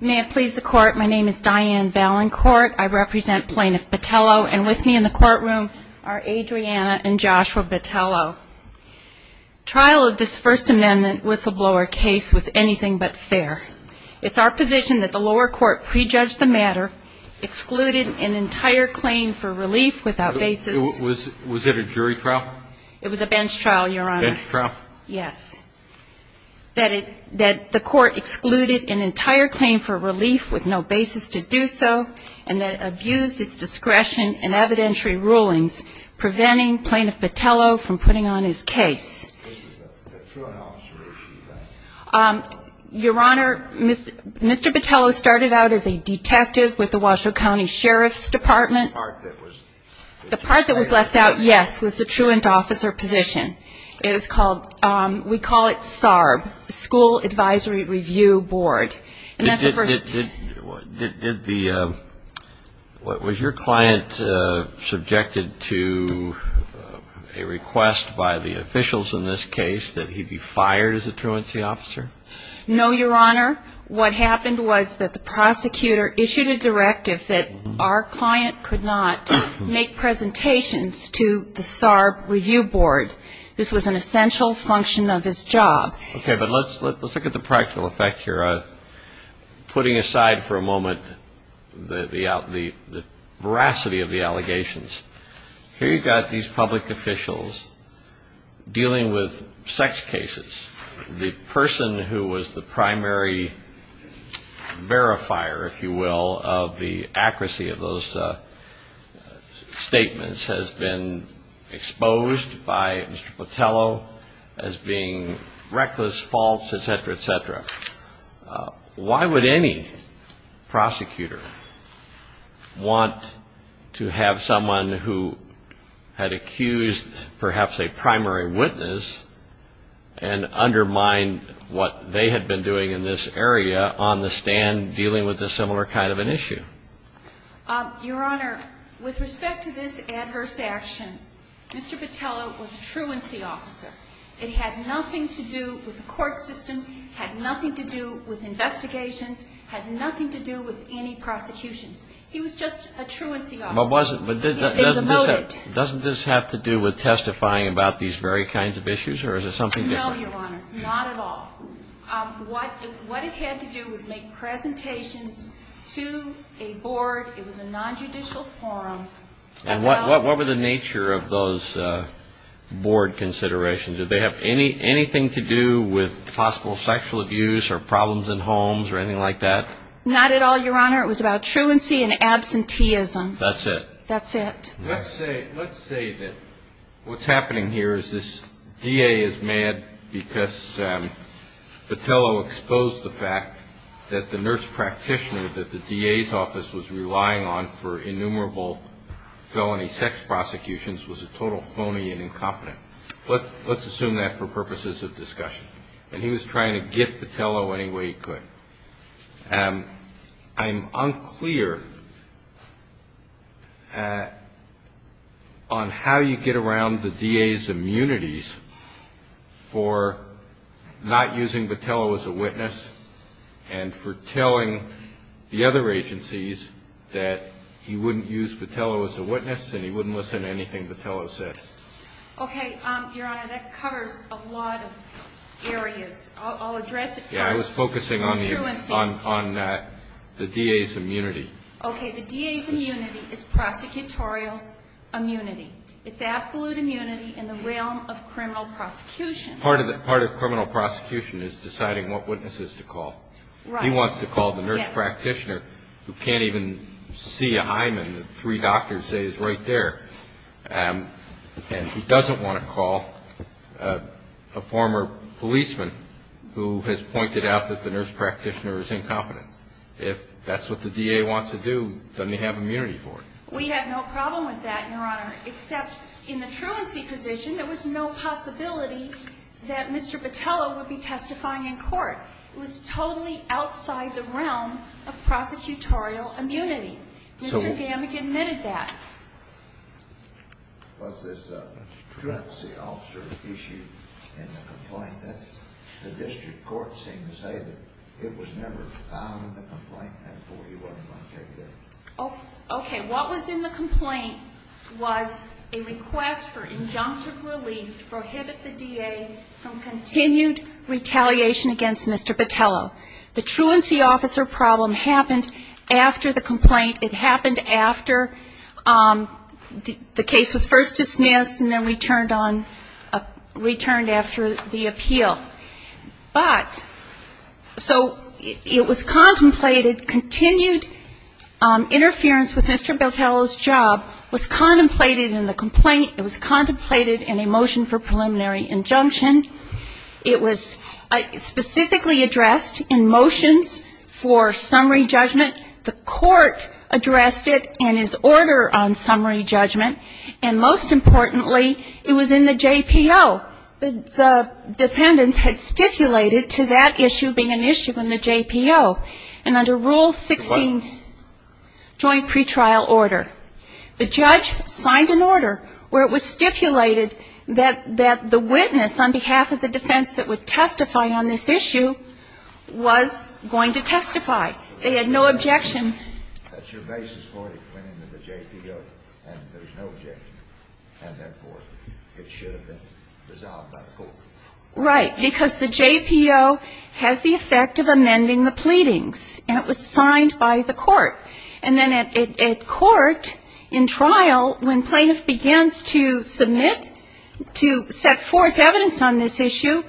May it please the Court, my name is Diane Valancourt, I represent Plaintiff Botello, and with me in the courtroom are Adriana and Joshua Botello. Trial of this First Amendment whistleblower case was anything but fair. It's our position that the lower court prejudged the matter, excluded an entire claim for relief without basis Was it a jury trial? It was a bench trial, Your Honor. Bench trial? Yes, that the court excluded an entire claim for relief with no basis to do so, and that it abused its discretion in evidentiary rulings, preventing Plaintiff Botello from putting on his case. This is a truant officer issue then? Your Honor, Mr. Botello started out as a detective with the Washoe County Sheriff's Department. The part that was left out? The part that was left out, yes, was the truant officer position. It was called, we call it SARB, School Advisory Review Board. Did the, was your client subjected to a request by the officials in this case that he be fired as a truancy officer? No, Your Honor. What happened was that the prosecutor issued a directive that our client could not make presentations to the SARB Review Board. This was an essential function of his job. Okay, but let's look at the practical effect here. Putting aside for a moment the veracity of the allegations, here you've got these public officials dealing with sex cases. The person who was the primary verifier, if you will, of the accuracy of those statements has been exposed by Mr. Botello as being reckless, false, et cetera, et cetera. Why would any prosecutor want to have someone who had accused perhaps a primary witness and undermined what they had been doing in this area on the stand dealing with a similar kind of an issue? Your Honor, with respect to this adverse action, Mr. Botello was a truancy officer. It had nothing to do with the court system, had nothing to do with investigations, had nothing to do with any prosecutions. He was just a truancy officer. But wasn't, doesn't this have to do with testifying about these very kinds of issues or is it something different? No, Your Honor, not at all. What it had to do was make presentations to a board. It was a non-judicial forum. And what were the nature of those board considerations? Did they have anything to do with possible sexual abuse or problems in homes or anything like that? Not at all, Your Honor. It was about truancy and absenteeism. That's it? That's it. Let's say, let's say that what's happening here is this DA is mad because Botello exposed the fact that the nurse practitioner that the DA's office was relying on for innumerable felony sex prosecutions was a total phony and incompetent. Let's assume that for purposes of discussion. And he was trying to get Botello any way he could. I'm unclear on how you get around the DA's immunities for not using Botello as a witness and for telling the other agencies that he wouldn't use Botello as a witness and he wouldn't listen to anything Botello said. Okay, Your Honor, that covers a lot of areas. I'll address it first. I was focusing on the DA's immunity. Okay, the DA's immunity is prosecutorial immunity. It's absolute immunity in the realm of criminal prosecution. Part of criminal prosecution is deciding what witnesses to call. He wants to call the nurse practitioner who can't even see a hymen. The three doctors say he's right there. And he doesn't want to call a former policeman who has pointed out that the nurse practitioner is incompetent. If that's what the DA wants to do, doesn't he have immunity for it? We have no problem with that, Your Honor, except in the truancy position, there was no possibility that Mr. Botello would be testifying in court. It was totally outside the realm of prosecutorial immunity. Mr. Gammack admitted that. Was this a truancy officer issue in the complaint? The district court seemed to say that it was never found in the complaint, therefore, you wouldn't want to take it in. Okay, what was in the complaint was a request for injunctive relief to prohibit the DA from continued retaliation against Mr. Botello. The truancy officer problem happened after the complaint. It happened after the case was first dismissed and then returned on, returned after the appeal. But so it was contemplated, continued interference with Mr. Botello's job was contemplated in the complaint. It was contemplated in a motion for preliminary injunction. It was specifically addressed in motions for summary judgment. The court addressed it in his order on summary judgment. And most importantly, it was in the JPO. The defendants had stipulated to that issue being an issue in the JPO. And under Rule 16, joint pretrial order, the judge signed an order where it was stipulated that the witness on behalf of the defense that would testify on this issue was going to testify. They had no objection. That's your basis for it. It went into the JPO, and there's no objection. And therefore, it should have been resolved by the court. Right, because the JPO has the effect of amending the pleadings, and it was signed by the court. And then at court, in trial, when plaintiff begins to submit, to set forth evidence on this issue,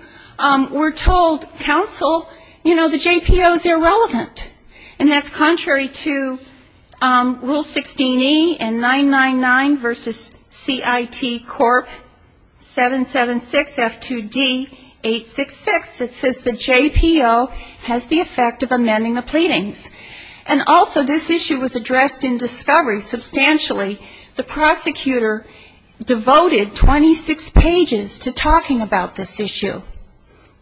we're told, counsel, you know, the JPO is irrelevant. And that's contrary to Rule 16E and 999 versus CIT Corp. 776F2D866. It says the JPO has the effect of amending the pleadings. And also, this issue was addressed in discovery substantially. The prosecutor devoted 26 pages to talking about this issue,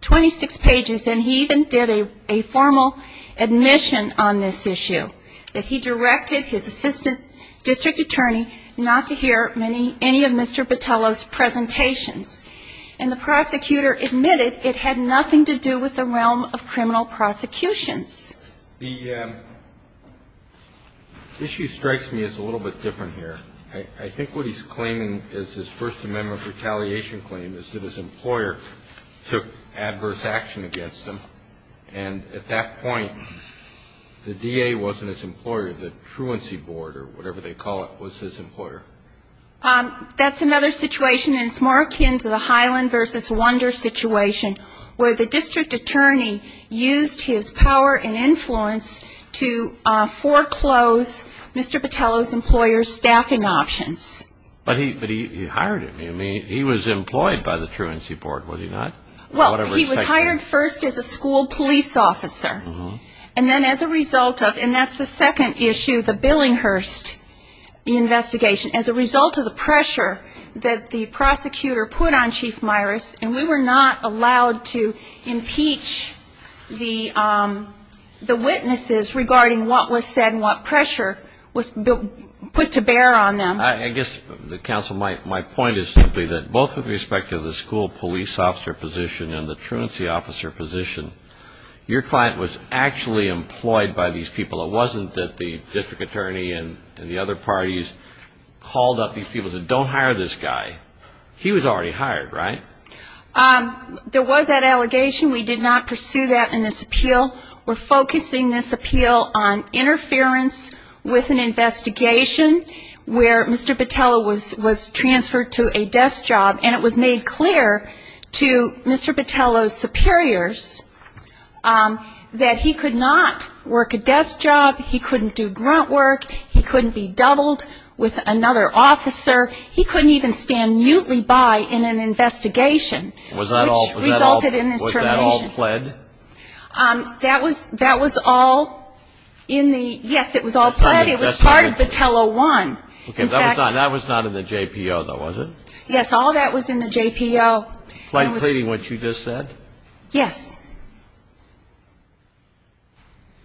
26 pages. And he even did a formal admission on this issue, that he directed his assistant district attorney not to hear any of Mr. Botello's presentations. And the prosecutor admitted it had nothing to do with the realm of criminal prosecutions. The issue strikes me as a little bit different here. I think what he's claiming is his First Amendment retaliation claim is that his employer took adverse action against him. And at that point, the DA wasn't his employer. The truancy board, or whatever they call it, was his employer. That's another situation. And it's more akin to the Highland versus Wonder situation, where the district attorney used his power and influence to foreclose Mr. Botello's employer's staffing options. But he hired him. He was employed by the truancy board, was he not? Well, he was hired first as a school police officer. And then as a result of, and that's the second issue, the Billinghurst investigation, as a result of the pressure that the prosecutor put on Chief Myers, and we were not allowed to impeach the witnesses regarding what was said and what pressure was put to bear on them. I guess, Counsel, my point is simply that both with respect to the school police officer position and the truancy officer position, your client was actually employed by these people. It wasn't that the district attorney and the other parties called up these people and said, don't hire this guy. He was already hired, right? There was that allegation. We did not pursue that in this appeal. We're focusing this appeal on interference with an investigation where Mr. Botello was transferred to a desk job, and it was made clear to Mr. Botello's superiors that he could not work a desk job. He couldn't do grunt work. He couldn't be doubled with another officer. He couldn't even stand mutely by in an investigation, which resulted in his termination. Was that all pled? That was all in the, yes, it was all pled. It was part of Botello 1. That was not in the JPO, though, was it? Yes, all that was in the JPO. Plain pleading what you just said? Yes.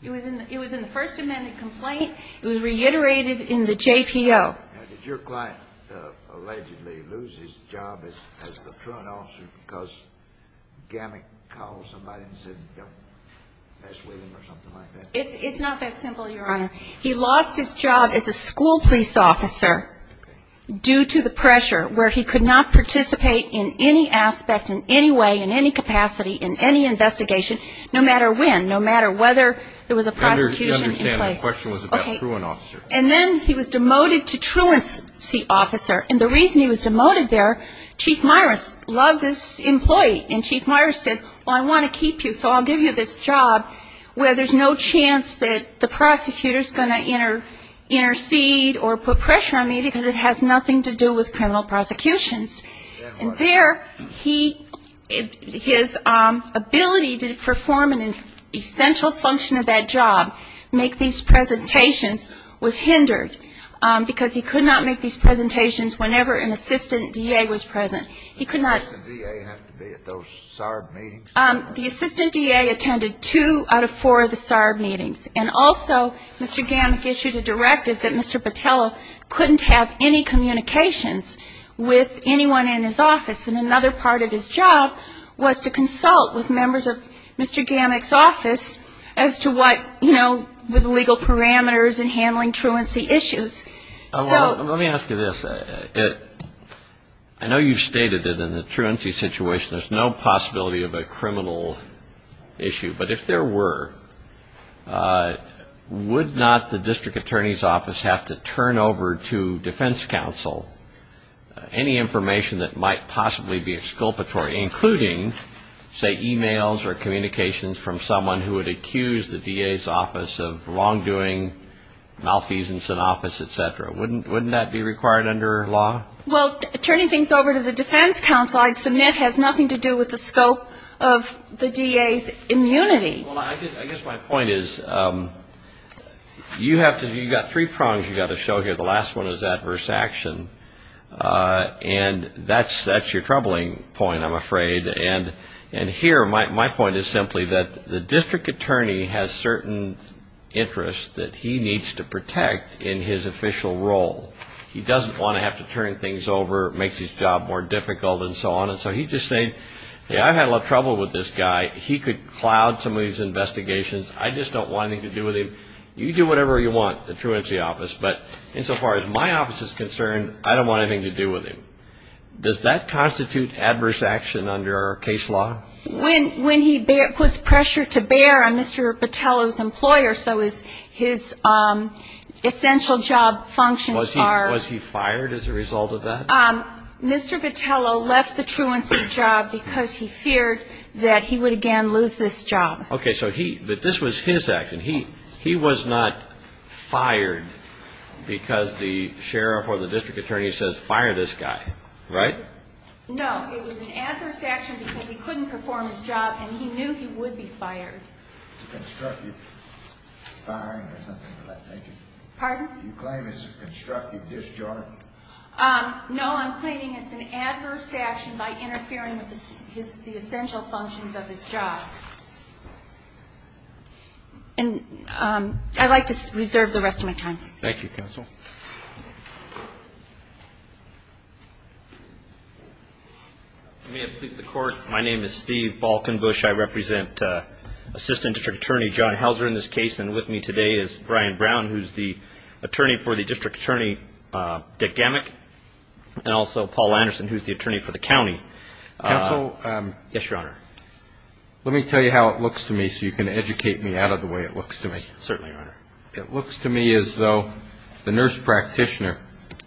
It was in the first amended complaint. It was reiterated in the JPO. Did your client allegedly lose his job as the truant officer because Gammon called somebody and said don't mess with him or something like that? It's not that simple, Your Honor. He lost his job as a school police officer due to the pressure where he could not participate in any aspect, in any way, in any capacity, in any investigation, no matter when, no matter whether there was a prosecution in place. I understand the question was about truant officer. And then he was demoted to truancy officer. And the reason he was demoted there, Chief Meyers loved this employee, and Chief Meyers said, well, I want to keep you, so I'll give you this job where there's no chance that the prosecutor is going to intercede or put pressure on me because it has nothing to do with criminal prosecutions. And there, his ability to perform an essential function of that job, make these presentations, was hindered because he could not make these presentations whenever an assistant DA was present. He could not ---- Did the assistant DA have to be at those SARB meetings? The assistant DA attended two out of four of the SARB meetings. And also, Mr. Gammon issued a directive that Mr. Patella couldn't have any communications with anyone in his office. And another part of his job was to consult with members of Mr. Gammon's office as to what, you know, with legal parameters and handling truancy issues. Let me ask you this. I know you've stated that in a truancy situation there's no possibility of a criminal issue, but if there were, would not the district attorney's office have to turn over to defense counsel any information that might possibly be exculpatory, including, say, e-mails or communications from someone who had accused the DA's office of wrongdoing, malfeasance in office, et cetera? Wouldn't that be required under law? Well, turning things over to the defense counsel, I'd submit has nothing to do with the scope of the DA's immunity. Well, I guess my point is you have to ---- you've got three prongs you've got to show here. The last one is adverse action. And that's your troubling point, I'm afraid. And here my point is simply that the district attorney has certain interests that he needs to protect in his official role. He doesn't want to have to turn things over, makes his job more difficult and so on. And so he's just saying, hey, I've had a lot of trouble with this guy. He could cloud some of these investigations. I just don't want anything to do with him. You do whatever you want, the truancy office. But insofar as my office is concerned, I don't want anything to do with him. Does that constitute adverse action under our case law? When he puts pressure to bear on Mr. Botello's employer, so his essential job functions are ---- Was he fired as a result of that? Mr. Botello left the truancy job because he feared that he would again lose this job. Okay. So he ---- but this was his action. He was not fired because the sheriff or the district attorney says fire this guy, right? No, it was an adverse action because he couldn't perform his job and he knew he would be fired. It's a constructive firing or something like that. Pardon? Do you claim it's a constructive disjoint? No, I'm claiming it's an adverse action by interfering with the essential functions of his job. And I'd like to reserve the rest of my time. Thank you, counsel. May it please the Court, my name is Steve Balkenbush. I represent Assistant District Attorney John Helzer in this case, and with me today is Brian Brown, who's the attorney for the district attorney, Dick Gamak, and also Paul Anderson, who's the attorney for the county. Counsel? Yes, Your Honor. Let me tell you how it looks to me so you can educate me out of the way it looks to me. Certainly, Your Honor. It looks to me as though the nurse practitioner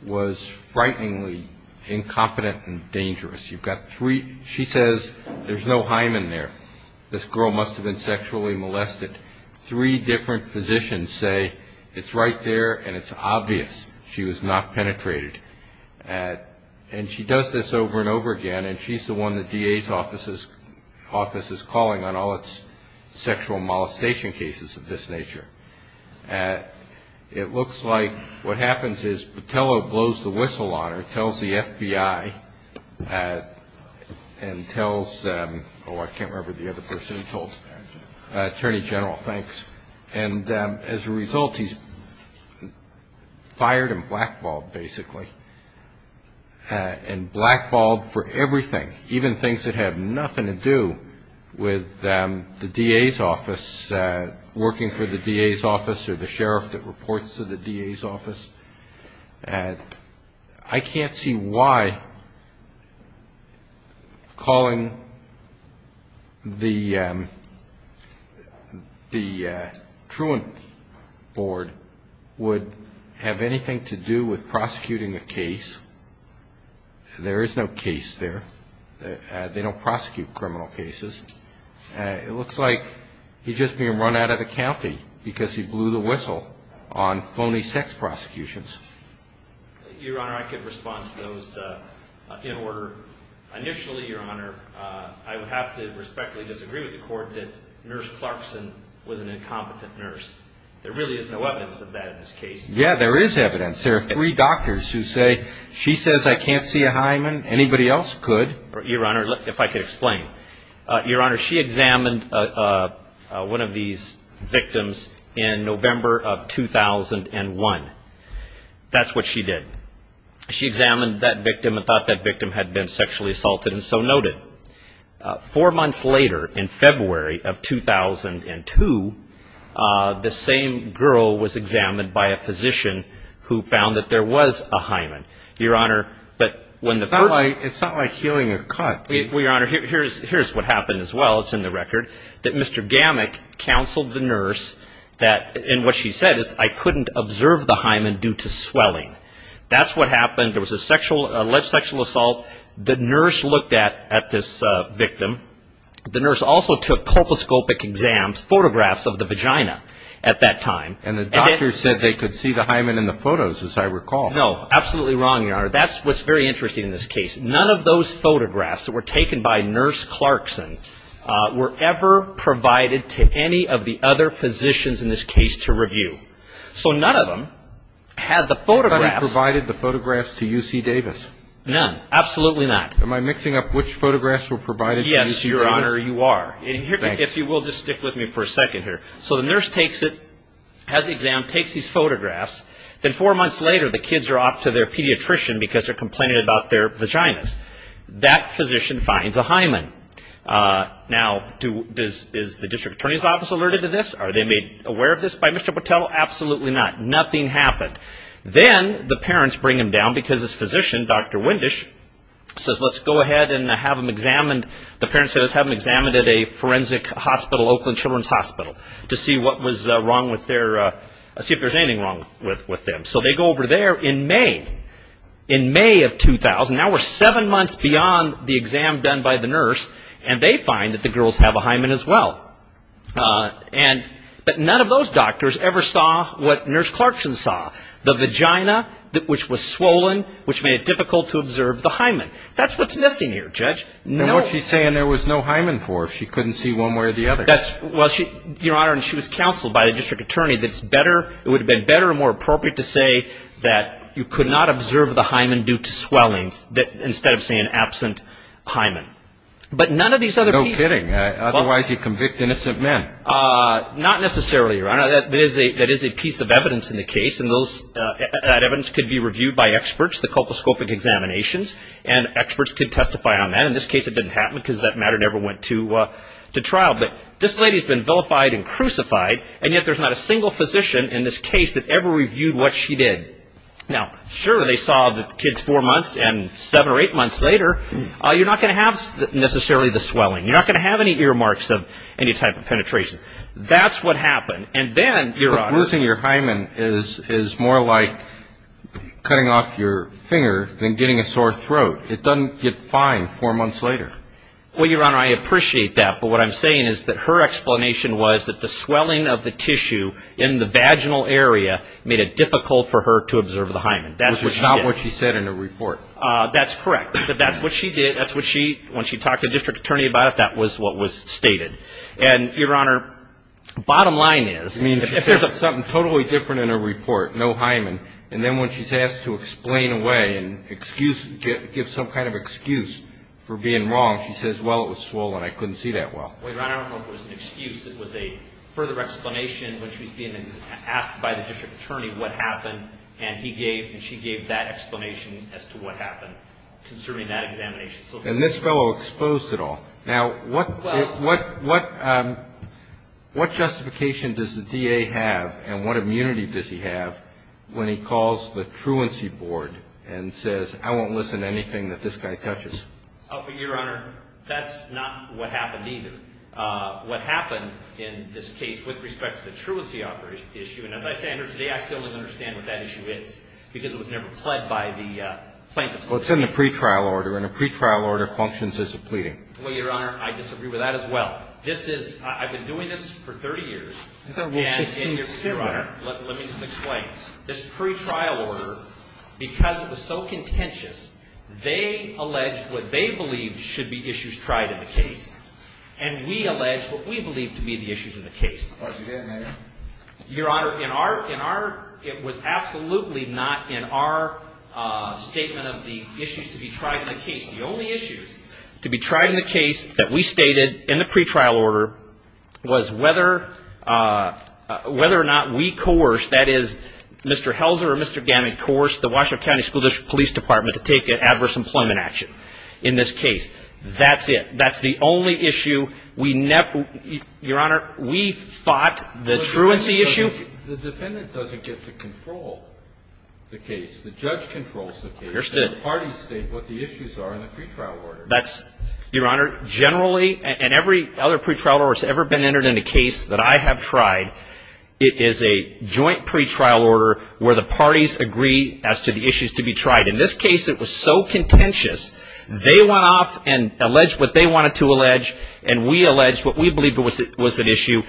was frighteningly incompetent and dangerous. You've got three ---- she says there's no hymen there, this girl must have been sexually molested. Three different physicians say it's right there and it's obvious she was not penetrated. And she does this over and over again, and she's the one the DA's office is calling on all its sexual molestation cases of this nature. It looks like what happens is Patello blows the whistle on her, tells the FBI, and tells, oh, I can't remember the other person he told, Attorney General, thanks. And as a result, he's fired and blackballed, basically, and blackballed for everything, even things that have nothing to do with the DA's office, working for the DA's office or the sheriff that reports to the DA's office. I can't see why calling the truant board would have anything to do with prosecuting a case. There is no case there. They don't prosecute criminal cases. It looks like he's just being run out of the county because he blew the whistle on phony sex prosecutions. Your Honor, I could respond to those in order. Initially, Your Honor, I would have to respectfully disagree with the court that Nurse Clarkson was an incompetent nurse. There really is no evidence of that in this case. Yeah, there is evidence. There are three doctors who say she says I can't see a hymen, anybody else could. Your Honor, if I could explain. Your Honor, she examined one of these victims in November of 2001. That's what she did. She examined that victim and thought that victim had been sexually assaulted, and so noted. Four months later, in February of 2002, the same girl was examined by a physician who found that there was a hymen. It's not like healing a cut. Well, Your Honor, here's what happened as well. It's in the record. That Mr. Gamak counseled the nurse, and what she said is, I couldn't observe the hymen due to swelling. That's what happened. There was an alleged sexual assault. The nurse looked at this victim. The nurse also took colposcopic exams, photographs of the vagina at that time. And the doctor said they could see the hymen in the photos, as I recall. No, absolutely wrong, Your Honor. That's what's very interesting in this case. None of those photographs that were taken by Nurse Clarkson were ever provided to any of the other physicians in this case to review. So none of them had the photographs. Nobody provided the photographs to UC Davis. None. Absolutely not. Am I mixing up which photographs were provided to UC Davis? Yes, Your Honor, you are. Thanks. If you will just stick with me for a second here. So the nurse takes it, has the exam, takes these photographs. Then four months later, the kids are off to their pediatrician because they're complaining about their vaginas. That physician finds a hymen. Now, is the district attorney's office alerted to this? Are they made aware of this by Mr. Patel? Absolutely not. Nothing happened. Then the parents bring him down because his physician, Dr. Windisch, says let's go ahead and have him examined. The parents say let's have him examined at a forensic hospital, Oakland Children's Hospital, to see if there's anything wrong with them. So they go over there in May, in May of 2000. Now we're seven months beyond the exam done by the nurse, and they find that the girls have a hymen as well. But none of those doctors ever saw what Nurse Clarkson saw, the vagina, which was swollen, which made it difficult to observe the hymen. That's what's missing here, Judge. Then what's she saying there was no hymen for? She couldn't see one way or the other. Your Honor, she was counseled by the district attorney that it would have been better and more appropriate to say that you could not observe the hymen due to swelling, instead of saying absent hymen. No kidding. Otherwise you convict innocent men. Not necessarily, Your Honor. That is a piece of evidence in the case, and that evidence could be reviewed by experts, the colposcopic examinations, and experts could testify on that. In this case, it didn't happen because that matter never went to trial. But this lady's been vilified and crucified, and yet there's not a single physician in this case that ever reviewed what she did. Now, sure, they saw the kids four months and seven or eight months later. You're not going to have necessarily the swelling. You're not going to have any earmarks of any type of penetration. That's what happened. And then, Your Honor. But losing your hymen is more like cutting off your finger than getting a sore throat. It doesn't get fine four months later. Well, Your Honor, I appreciate that. But what I'm saying is that her explanation was that the swelling of the tissue in the vaginal area made it difficult for her to observe the hymen. That's what she did. Which is not what she said in her report. That's correct. That's what she did. That's what she, when she talked to the district attorney about it, that was what was stated. And, Your Honor, bottom line is. I mean, she said something totally different in her report, no hymen. And then when she's asked to explain away and excuse, give some kind of excuse for being wrong, she says, well, it was swollen. I couldn't see that well. Well, Your Honor, I don't know if it was an excuse. It was a further explanation when she was being asked by the district attorney what happened. And he gave and she gave that explanation as to what happened concerning that examination. And this fellow exposed it all. Now, what justification does the DA have and what immunity does he have when he calls the truancy board and says, I won't listen to anything that this guy touches? Your Honor, that's not what happened either. What happened in this case with respect to the truancy issue, and as I stand here today, I still don't understand what that issue is because it was never pled by the plaintiffs. Well, it's in the pretrial order. And a pretrial order functions as a pleading. Well, Your Honor, I disagree with that as well. This is – I've been doing this for 30 years. And Your Honor, let me just explain. This pretrial order, because it was so contentious, they alleged what they believed should be issues tried in the case. And we allege what we believe to be the issues of the case. Your Honor, in our – it was absolutely not in our statement of the issues to be tried in the case. The only issues to be tried in the case that we stated in the pretrial order was whether or not we coerced, that is, Mr. Helzer or Mr. Gammon coerced, the Washoe County School District Police Department to take an adverse employment action in this case. That's it. That's the only issue we – Your Honor, we fought the truancy issue. The defendant doesn't get to control the case. The judge controls the case. The parties state what the issues are in the pretrial order. That's – Your Honor, generally, and every other pretrial order that's ever been entered in a case that I have tried, it is a joint pretrial order where the parties agree as to the issues to be tried. In this case, it was so contentious, they went off and alleged what they wanted to allege, and we alleged what we believed was an issue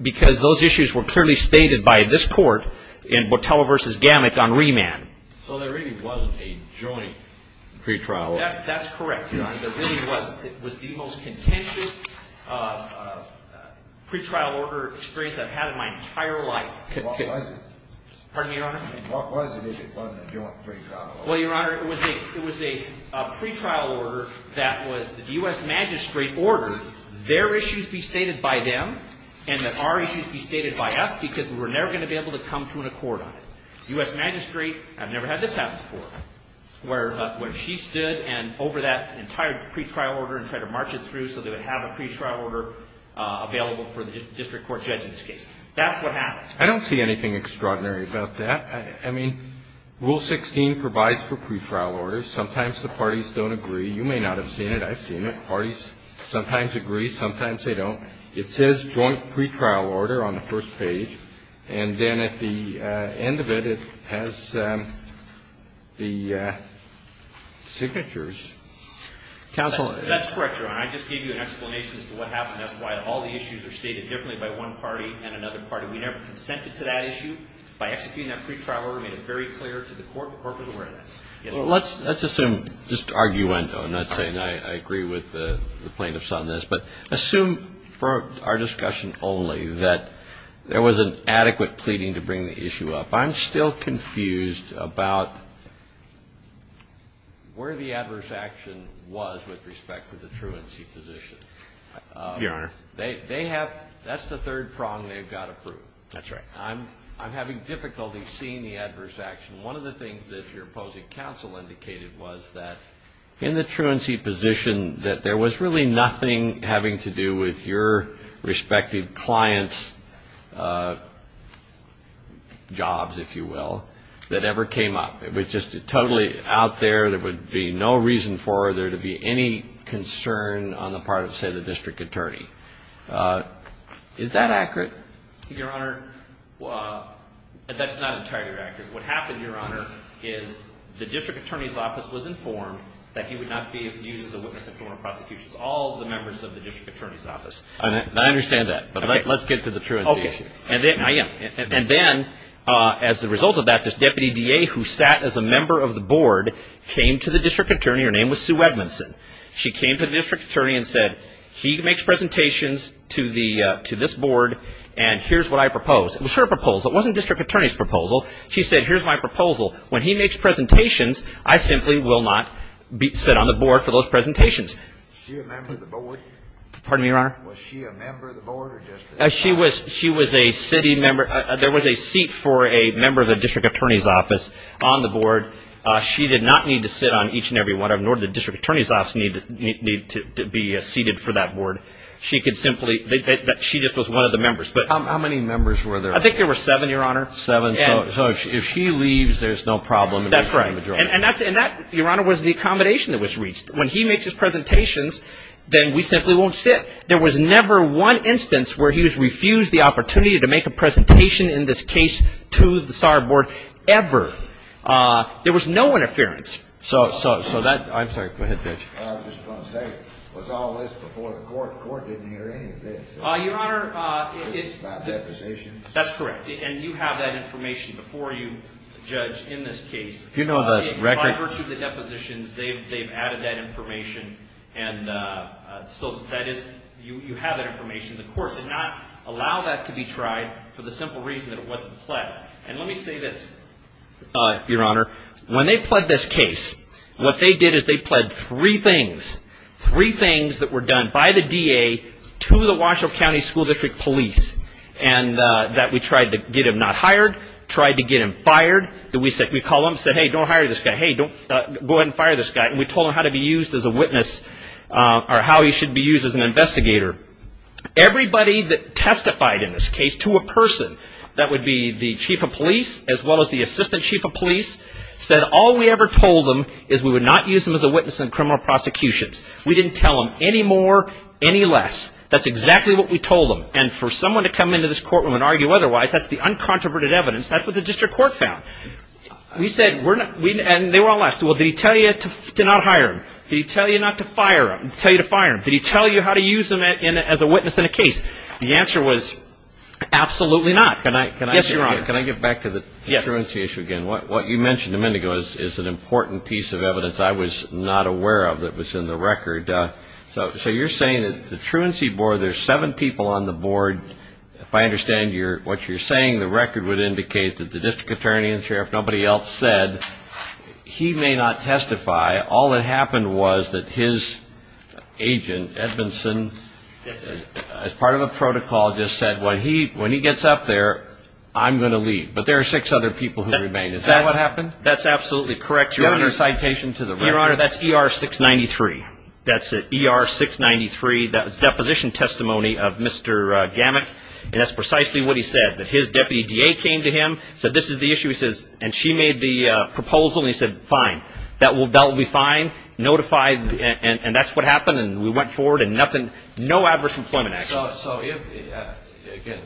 because those issues were clearly stated by this court in Botella v. Gammon on remand. So there really wasn't a joint pretrial order. That's correct, Your Honor. There really wasn't. It was the most contentious pretrial order experience I've had in my entire life. What was it? Pardon me, Your Honor? What was it if it wasn't a joint pretrial order? Well, Your Honor, it was a pretrial order that was the U.S. Magistrate ordered their issues be stated by them and that our issues be stated by us because we were never going to be able to come to an accord on it. U.S. Magistrate, I've never had this happen before, where she stood over that entire pretrial order and tried to march it through so they would have a pretrial order available for the district court judge in this case. That's what happened. I don't see anything extraordinary about that. I mean, Rule 16 provides for pretrial orders. Sometimes the parties don't agree. You may not have seen it. I've seen it. Parties sometimes agree, sometimes they don't. It says joint pretrial order on the first page, and then at the end of it, it has the signatures. Counsel. That's correct, Your Honor. I just gave you an explanation as to what happened. That's why all the issues are stated differently by one party and another party. We never consented to that issue. By executing that pretrial order, we made it very clear to the court. The court was aware of that. Let's assume, just arguendo, I'm not saying I agree with the plaintiffs on this, but assume for our discussion only that there was an adequate pleading to bring the issue up. I'm still confused about where the adverse action was with respect to the truancy position. Your Honor. They have the third prong they've got approved. That's right. I'm having difficulty seeing the adverse action. One of the things that your opposing counsel indicated was that in the truancy position, that there was really nothing having to do with your respective client's jobs, if you will, that ever came up. It was just totally out there. There would be no reason for there to be any concern on the part of, say, the district attorney. Is that accurate? Your Honor, that's not entirely accurate. What happened, your Honor, is the district attorney's office was informed that he would not be used as a witness in criminal prosecutions. All the members of the district attorney's office. I understand that. But let's get to the truancy issue. And then, as a result of that, this deputy DA who sat as a member of the board came to the district attorney. Her name was Sue Edmondson. She came to the district attorney and said, he makes presentations to this board, and here's what I propose. It was her proposal. It wasn't the district attorney's proposal. She said, here's my proposal. When he makes presentations, I simply will not sit on the board for those presentations. Was she a member of the board? Pardon me, your Honor? Was she a member of the board? She was a city member. There was a seat for a member of the district attorney's office on the board. She did not need to sit on each and every one of them, nor did the district attorney's office need to be seated for that board. She just was one of the members. How many members were there? I think there were seven, your Honor. Seven. So if she leaves, there's no problem. That's right. And that, your Honor, was the accommodation that was reached. When he makes his presentations, then we simply won't sit. There was never one instance where he was refused the opportunity to make a presentation in this case to the SAR board ever. There was no interference. So that ‑‑ I'm sorry. Go ahead, Judge. I was just going to say, was all this before the court? The court didn't hear any of this. Your Honor, it's ‑‑ It's about depositions. That's correct. And you have that information before you, Judge, in this case. You know the record. By virtue of the depositions, they've added that information. And so that is ‑‑ you have that information. The court did not allow that to be tried for the simple reason that it wasn't pled. And let me say this, your Honor. When they pled this case, what they did is they pled three things. Three things that were done by the DA to the Washoe County School District Police. And that we tried to get him not hired, tried to get him fired. We called him and said, hey, don't hire this guy. Hey, go ahead and fire this guy. And we told him how to be used as a witness or how he should be used as an investigator. Everybody that testified in this case to a person that would be the chief of police as well as the assistant chief of police said all we ever told them is we would not use them as a witness in criminal prosecutions. We didn't tell them any more, any less. That's exactly what we told them. And for someone to come into this courtroom and argue otherwise, that's the uncontroverted evidence. That's what the district court found. We said ‑‑ and they were all asked, well, did he tell you to not hire him? Did he tell you to fire him? Did he tell you how to use him as a witness in a case? The answer was absolutely not. Yes, your Honor. Can I get back to the truancy issue again? What you mentioned a minute ago is an important piece of evidence I was not aware of that was in the record. So you're saying that the truancy board, there's seven people on the board. If I understand what you're saying, the record would indicate that the district attorney and sheriff, nobody else said. He may not testify. All that happened was that his agent, Edmondson, as part of a protocol just said when he gets up there, I'm going to leave. But there are six other people who remain. Is that what happened? That's absolutely correct, your Honor. Do you have any citation to the record? Your Honor, that's ER 693. That's ER 693. That was deposition testimony of Mr. Gamet. And that's precisely what he said, that his deputy DA came to him, said this is the issue. He says, and she made the proposal. And he said, fine. That will be fine. Notified. And that's what happened. And we went forward. And nothing, no adverse employment actions. So if, again,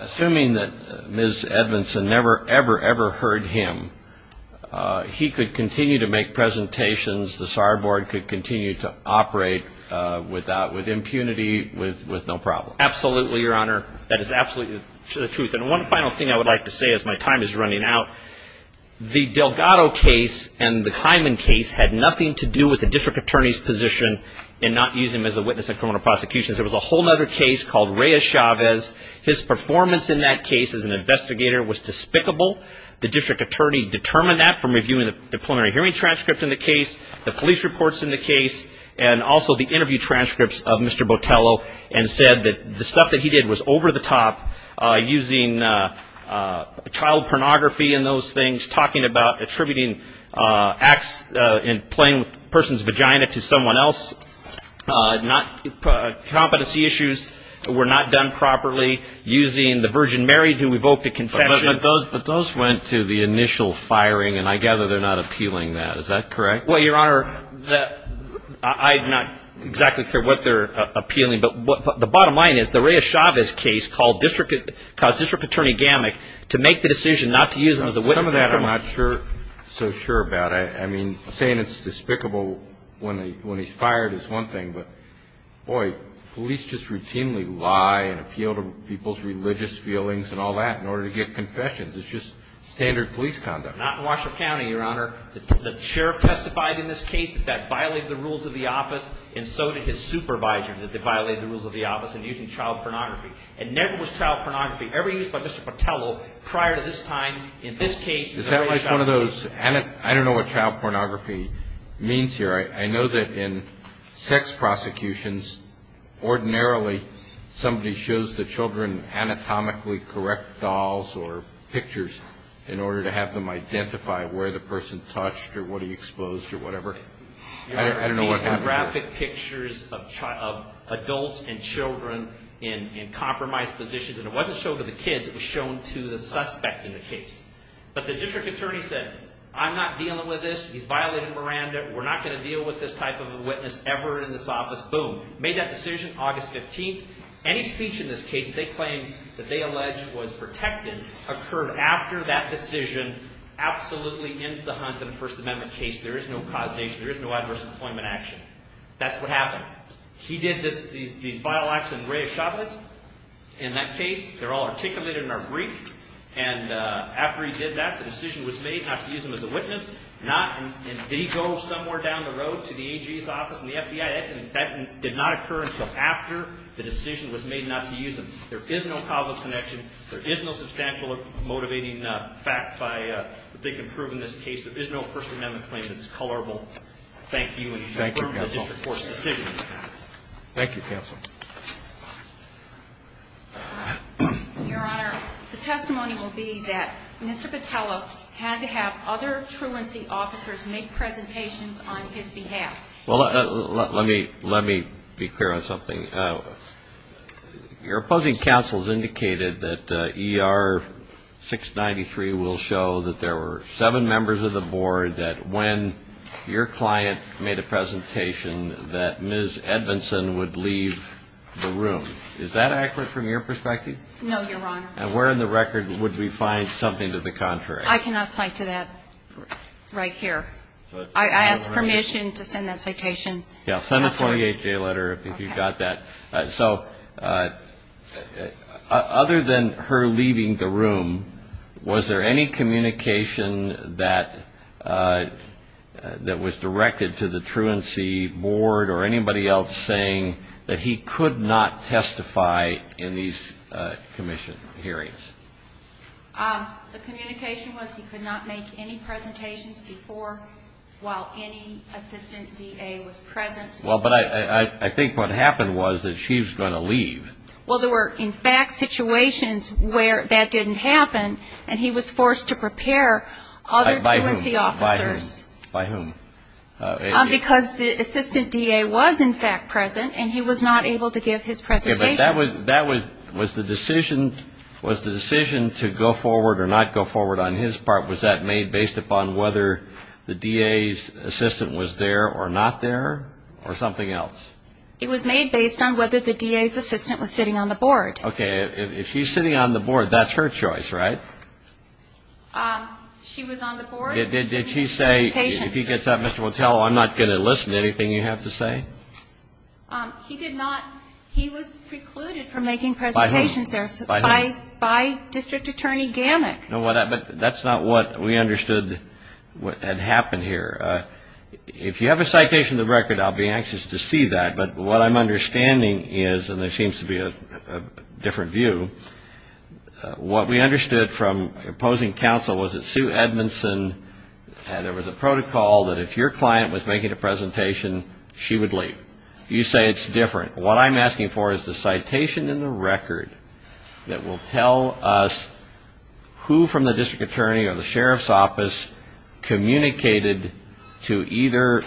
assuming that Ms. Edmondson never, ever, ever heard him, he could continue to make presentations. The SAR board could continue to operate with impunity, with no problem. Absolutely, your Honor. That is absolutely the truth. And one final thing I would like to say as my time is running out. The Delgado case and the Hyman case had nothing to do with the district attorney's position in not using him as a witness in criminal prosecution. There was a whole other case called Reyes-Chavez. His performance in that case as an investigator was despicable. The district attorney determined that from reviewing the preliminary hearing transcript in the case, the police reports in the case, and also the interview transcripts of Mr. Botello, and said that the stuff that he did was over the top, using child pornography in those things, talking about attributing acts in playing with a person's vagina to someone else, competency issues were not done properly, using the Virgin Mary to evoke the confession. But those went to the initial firing, and I gather they're not appealing that. Is that correct? Well, your Honor, I'm not exactly sure what they're appealing, but the bottom line is the Reyes-Chavez case caused district attorney Gammack to make the decision not to use him as a witness. Some of that I'm not so sure about. I mean, saying it's despicable when he's fired is one thing, but, boy, police just routinely lie and appeal to people's religious feelings and all that in order to get confessions. It's just standard police conduct. Not in Washoe County, your Honor. The sheriff testified in this case that that violated the rules of the office, and so did his supervisor, that they violated the rules of the office in using child pornography. And never was child pornography ever used by Mr. Botello prior to this time in this case. Is that like one of those anatomic? I don't know what child pornography means here. I know that in sex prosecutions, ordinarily somebody shows the children anatomically correct dolls or pictures in order to have them identify where the person touched or what he exposed or whatever. I don't know what happened there. Your Honor, these are graphic pictures of adults and children in compromised positions, and it wasn't shown to the kids. It was shown to the suspect in the case. But the district attorney said, I'm not dealing with this. He's violating Miranda. We're not going to deal with this type of a witness ever in this office. Boom. Made that decision August 15th. Any speech in this case that they claim that they allege was protected occurred after that decision absolutely ends the hunt in a First Amendment case. There is no causation. There is no adverse employment action. That's what happened. He did these vile acts in Reyes Chavez. In that case, they're all articulated in our brief. And after he did that, the decision was made not to use him as a witness, and he drove somewhere down the road to the AG's office and the FBI. That did not occur until after the decision was made not to use him. There is no causal connection. There is no substantial or motivating fact that they can prove in this case. There is no First Amendment claim that's colorable. Thank you. Thank you, counsel. Thank you, counsel. Your Honor, the testimony will be that Mr. Patella had to have other truancy officers make presentations on his behalf. Well, let me be clear on something. Your opposing counsel has indicated that ER-693 will show that there were seven members of the board that when your client made a presentation, that Ms. Edmondson would leave the room. Is that accurate from your perspective? No, Your Honor. And where in the record would we find something to the contrary? I cannot cite to that right here. I ask permission to send that citation afterwards. Yeah, send a 48-day letter if you've got that. So other than her leaving the room, was there any communication that was directed to the truancy board or anybody else saying that he could not testify in these commission hearings? The communication was he could not make any presentations before, while any assistant DA was present. Well, but I think what happened was that she was going to leave. Well, there were, in fact, situations where that didn't happen, and he was forced to prepare other truancy officers. By whom? Because the assistant DA was, in fact, present, and he was not able to give his presentation. But that was the decision to go forward or not go forward on his part. Was that made based upon whether the DA's assistant was there or not there or something else? It was made based on whether the DA's assistant was sitting on the board. Okay. If she's sitting on the board, that's her choice, right? She was on the board. Did she say, if he gets up, Mr. Motello, I'm not going to listen to anything you have to say? He did not. He was precluded from making presentations there by District Attorney Gammack. No, but that's not what we understood had happened here. If you have a citation of the record, I'll be anxious to see that. But what I'm understanding is, and there seems to be a different view, what we understood from opposing counsel was that Sue Edmondson, and there was a protocol that if your client was making a presentation, she would leave. You say it's different. What I'm asking for is the citation in the record that will tell us who from the District Attorney or the Sheriff's Office communicated to either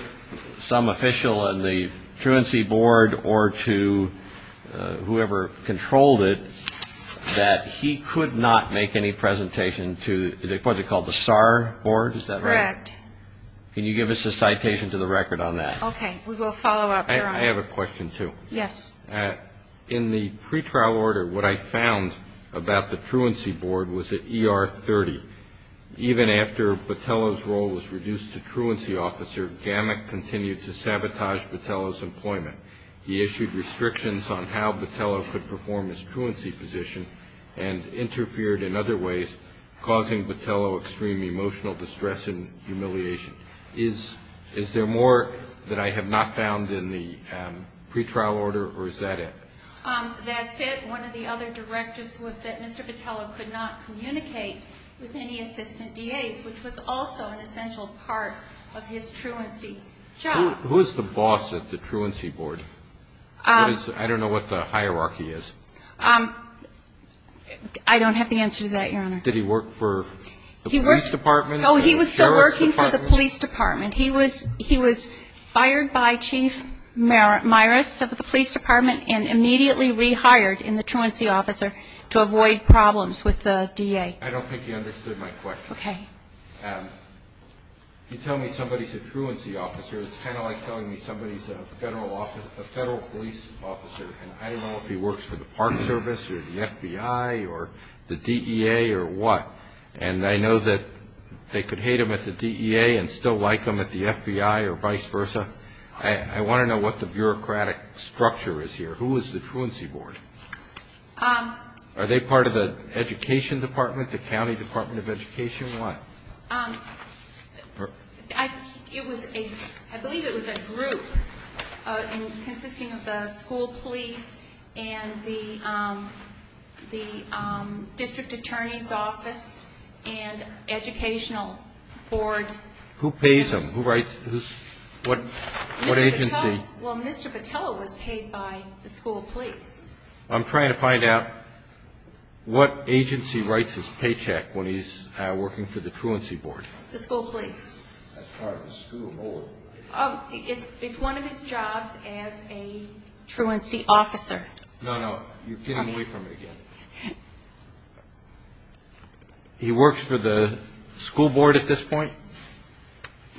some official on the truancy board or to whoever controlled it that he could not make any presentation to what they call the SAR board. Is that right? Correct. Can you give us a citation to the record on that? Okay. We will follow up. I have a question, too. Yes. In the pretrial order, what I found about the truancy board was that ER30, even after Botelho's role was reduced to truancy officer, Gammack continued to sabotage Botelho's employment. He issued restrictions on how Botelho could perform his truancy position and interfered in other ways, causing Botelho extreme emotional distress and humiliation. Is there more that I have not found in the pretrial order, or is that it? That's it. One of the other directives was that Mr. Botelho could not communicate with any assistant DAs, which was also an essential part of his truancy job. Who is the boss at the truancy board? I don't know what the hierarchy is. I don't have the answer to that, Your Honor. Did he work for the police department? No, he was still working for the police department. He was fired by Chief Myrus of the police department and immediately rehired in the truancy officer to avoid problems with the DA. I don't think you understood my question. Okay. You tell me somebody is a truancy officer, it's kind of like telling me somebody is a federal police officer, and I don't know if he works for the Park Service or the FBI or the DEA or what. And I know that they could hate him at the DEA and still like him at the FBI or vice versa. I want to know what the bureaucratic structure is here. Who is the truancy board? Are they part of the education department, the county department of education? What? I believe it was a group consisting of the school police and the district attorney's office and educational board. Who pays them? What agency? Well, Mr. Patella was paid by the school police. I'm trying to find out what agency writes his paycheck when he's working for the truancy board. The school police. That's part of the school board. Oh, it's one of his jobs as a truancy officer. No, no, you're getting away from it again. He works for the school board at this point?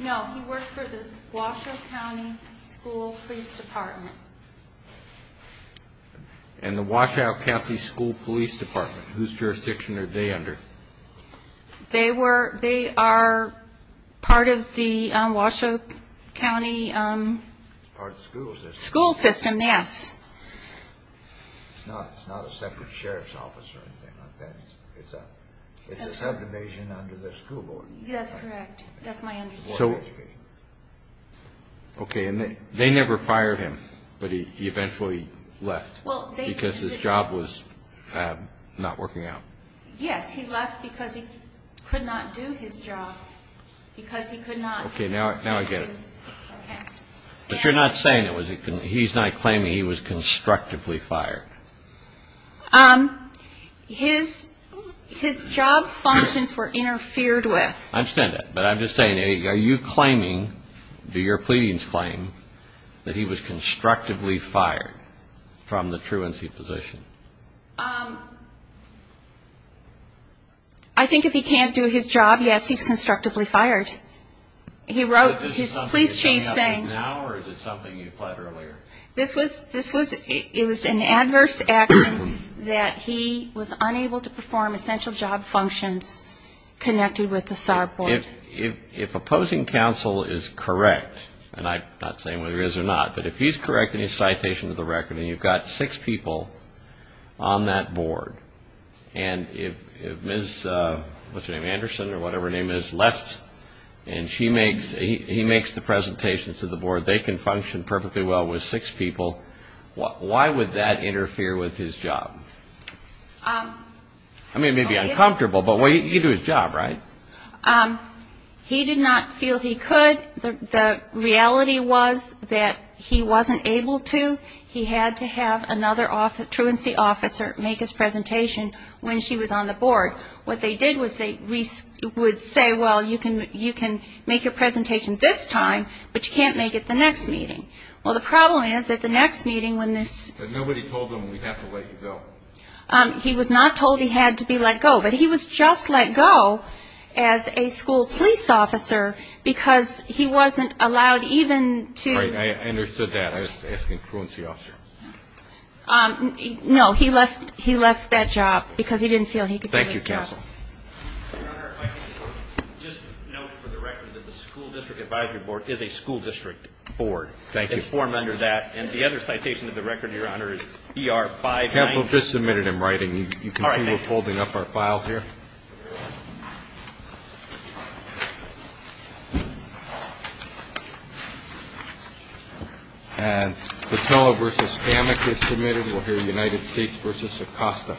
No, he works for the Washoe County School Police Department. And the Washoe County School Police Department, whose jurisdiction are they under? They are part of the Washoe County school system, yes. It's not a separate sheriff's office or anything like that. It's a subdivision under the school board. That's correct. That's my understanding. Okay, and they never fired him, but he eventually left because his job was not working out. Yes, he left because he could not do his job, because he could not. Okay, now I get it. But you're not saying that he's not claiming he was constructively fired. His job functions were interfered with. I understand that, but I'm just saying, are you claiming, do your pleadings claim, that he was constructively fired from the truancy position? I think if he can't do his job, yes, he's constructively fired. He wrote his police chief saying. Is this something that's happening now, or is it something you pled earlier? It was an adverse action that he was unable to perform essential job functions connected with the SAR board. If opposing counsel is correct, and I'm not saying whether he is or not, but if he's correct in his citation to the record, and you've got six people on that board, and if Ms. Anderson or whatever her name is left and he makes the presentation to the board, they can function perfectly well with six people, why would that interfere with his job? I mean, it may be uncomfortable, but you do his job, right? He did not feel he could. The reality was that he wasn't able to. He had to have another truancy officer make his presentation when she was on the board. What they did was they would say, well, you can make your presentation this time, but you can't make it the next meeting. Well, the problem is that the next meeting when this ---- But nobody told him we have to let you go. He was not told he had to be let go, but he was just let go as a school police officer because he wasn't allowed even to ---- Right. I understood that. I was asking truancy officer. No, he left that job because he didn't feel he could do his job. Thank you, counsel. Your Honor, if I can just note for the record that the School District Advisory Board is a school district board. Thank you. It's formed under that, and the other citation of the record, Your Honor, is ER-59. Counsel, just a minute in writing. All right, thank you. Thank you. And Petillo v. Spamek is submitted. We'll hear United States v. Socosta.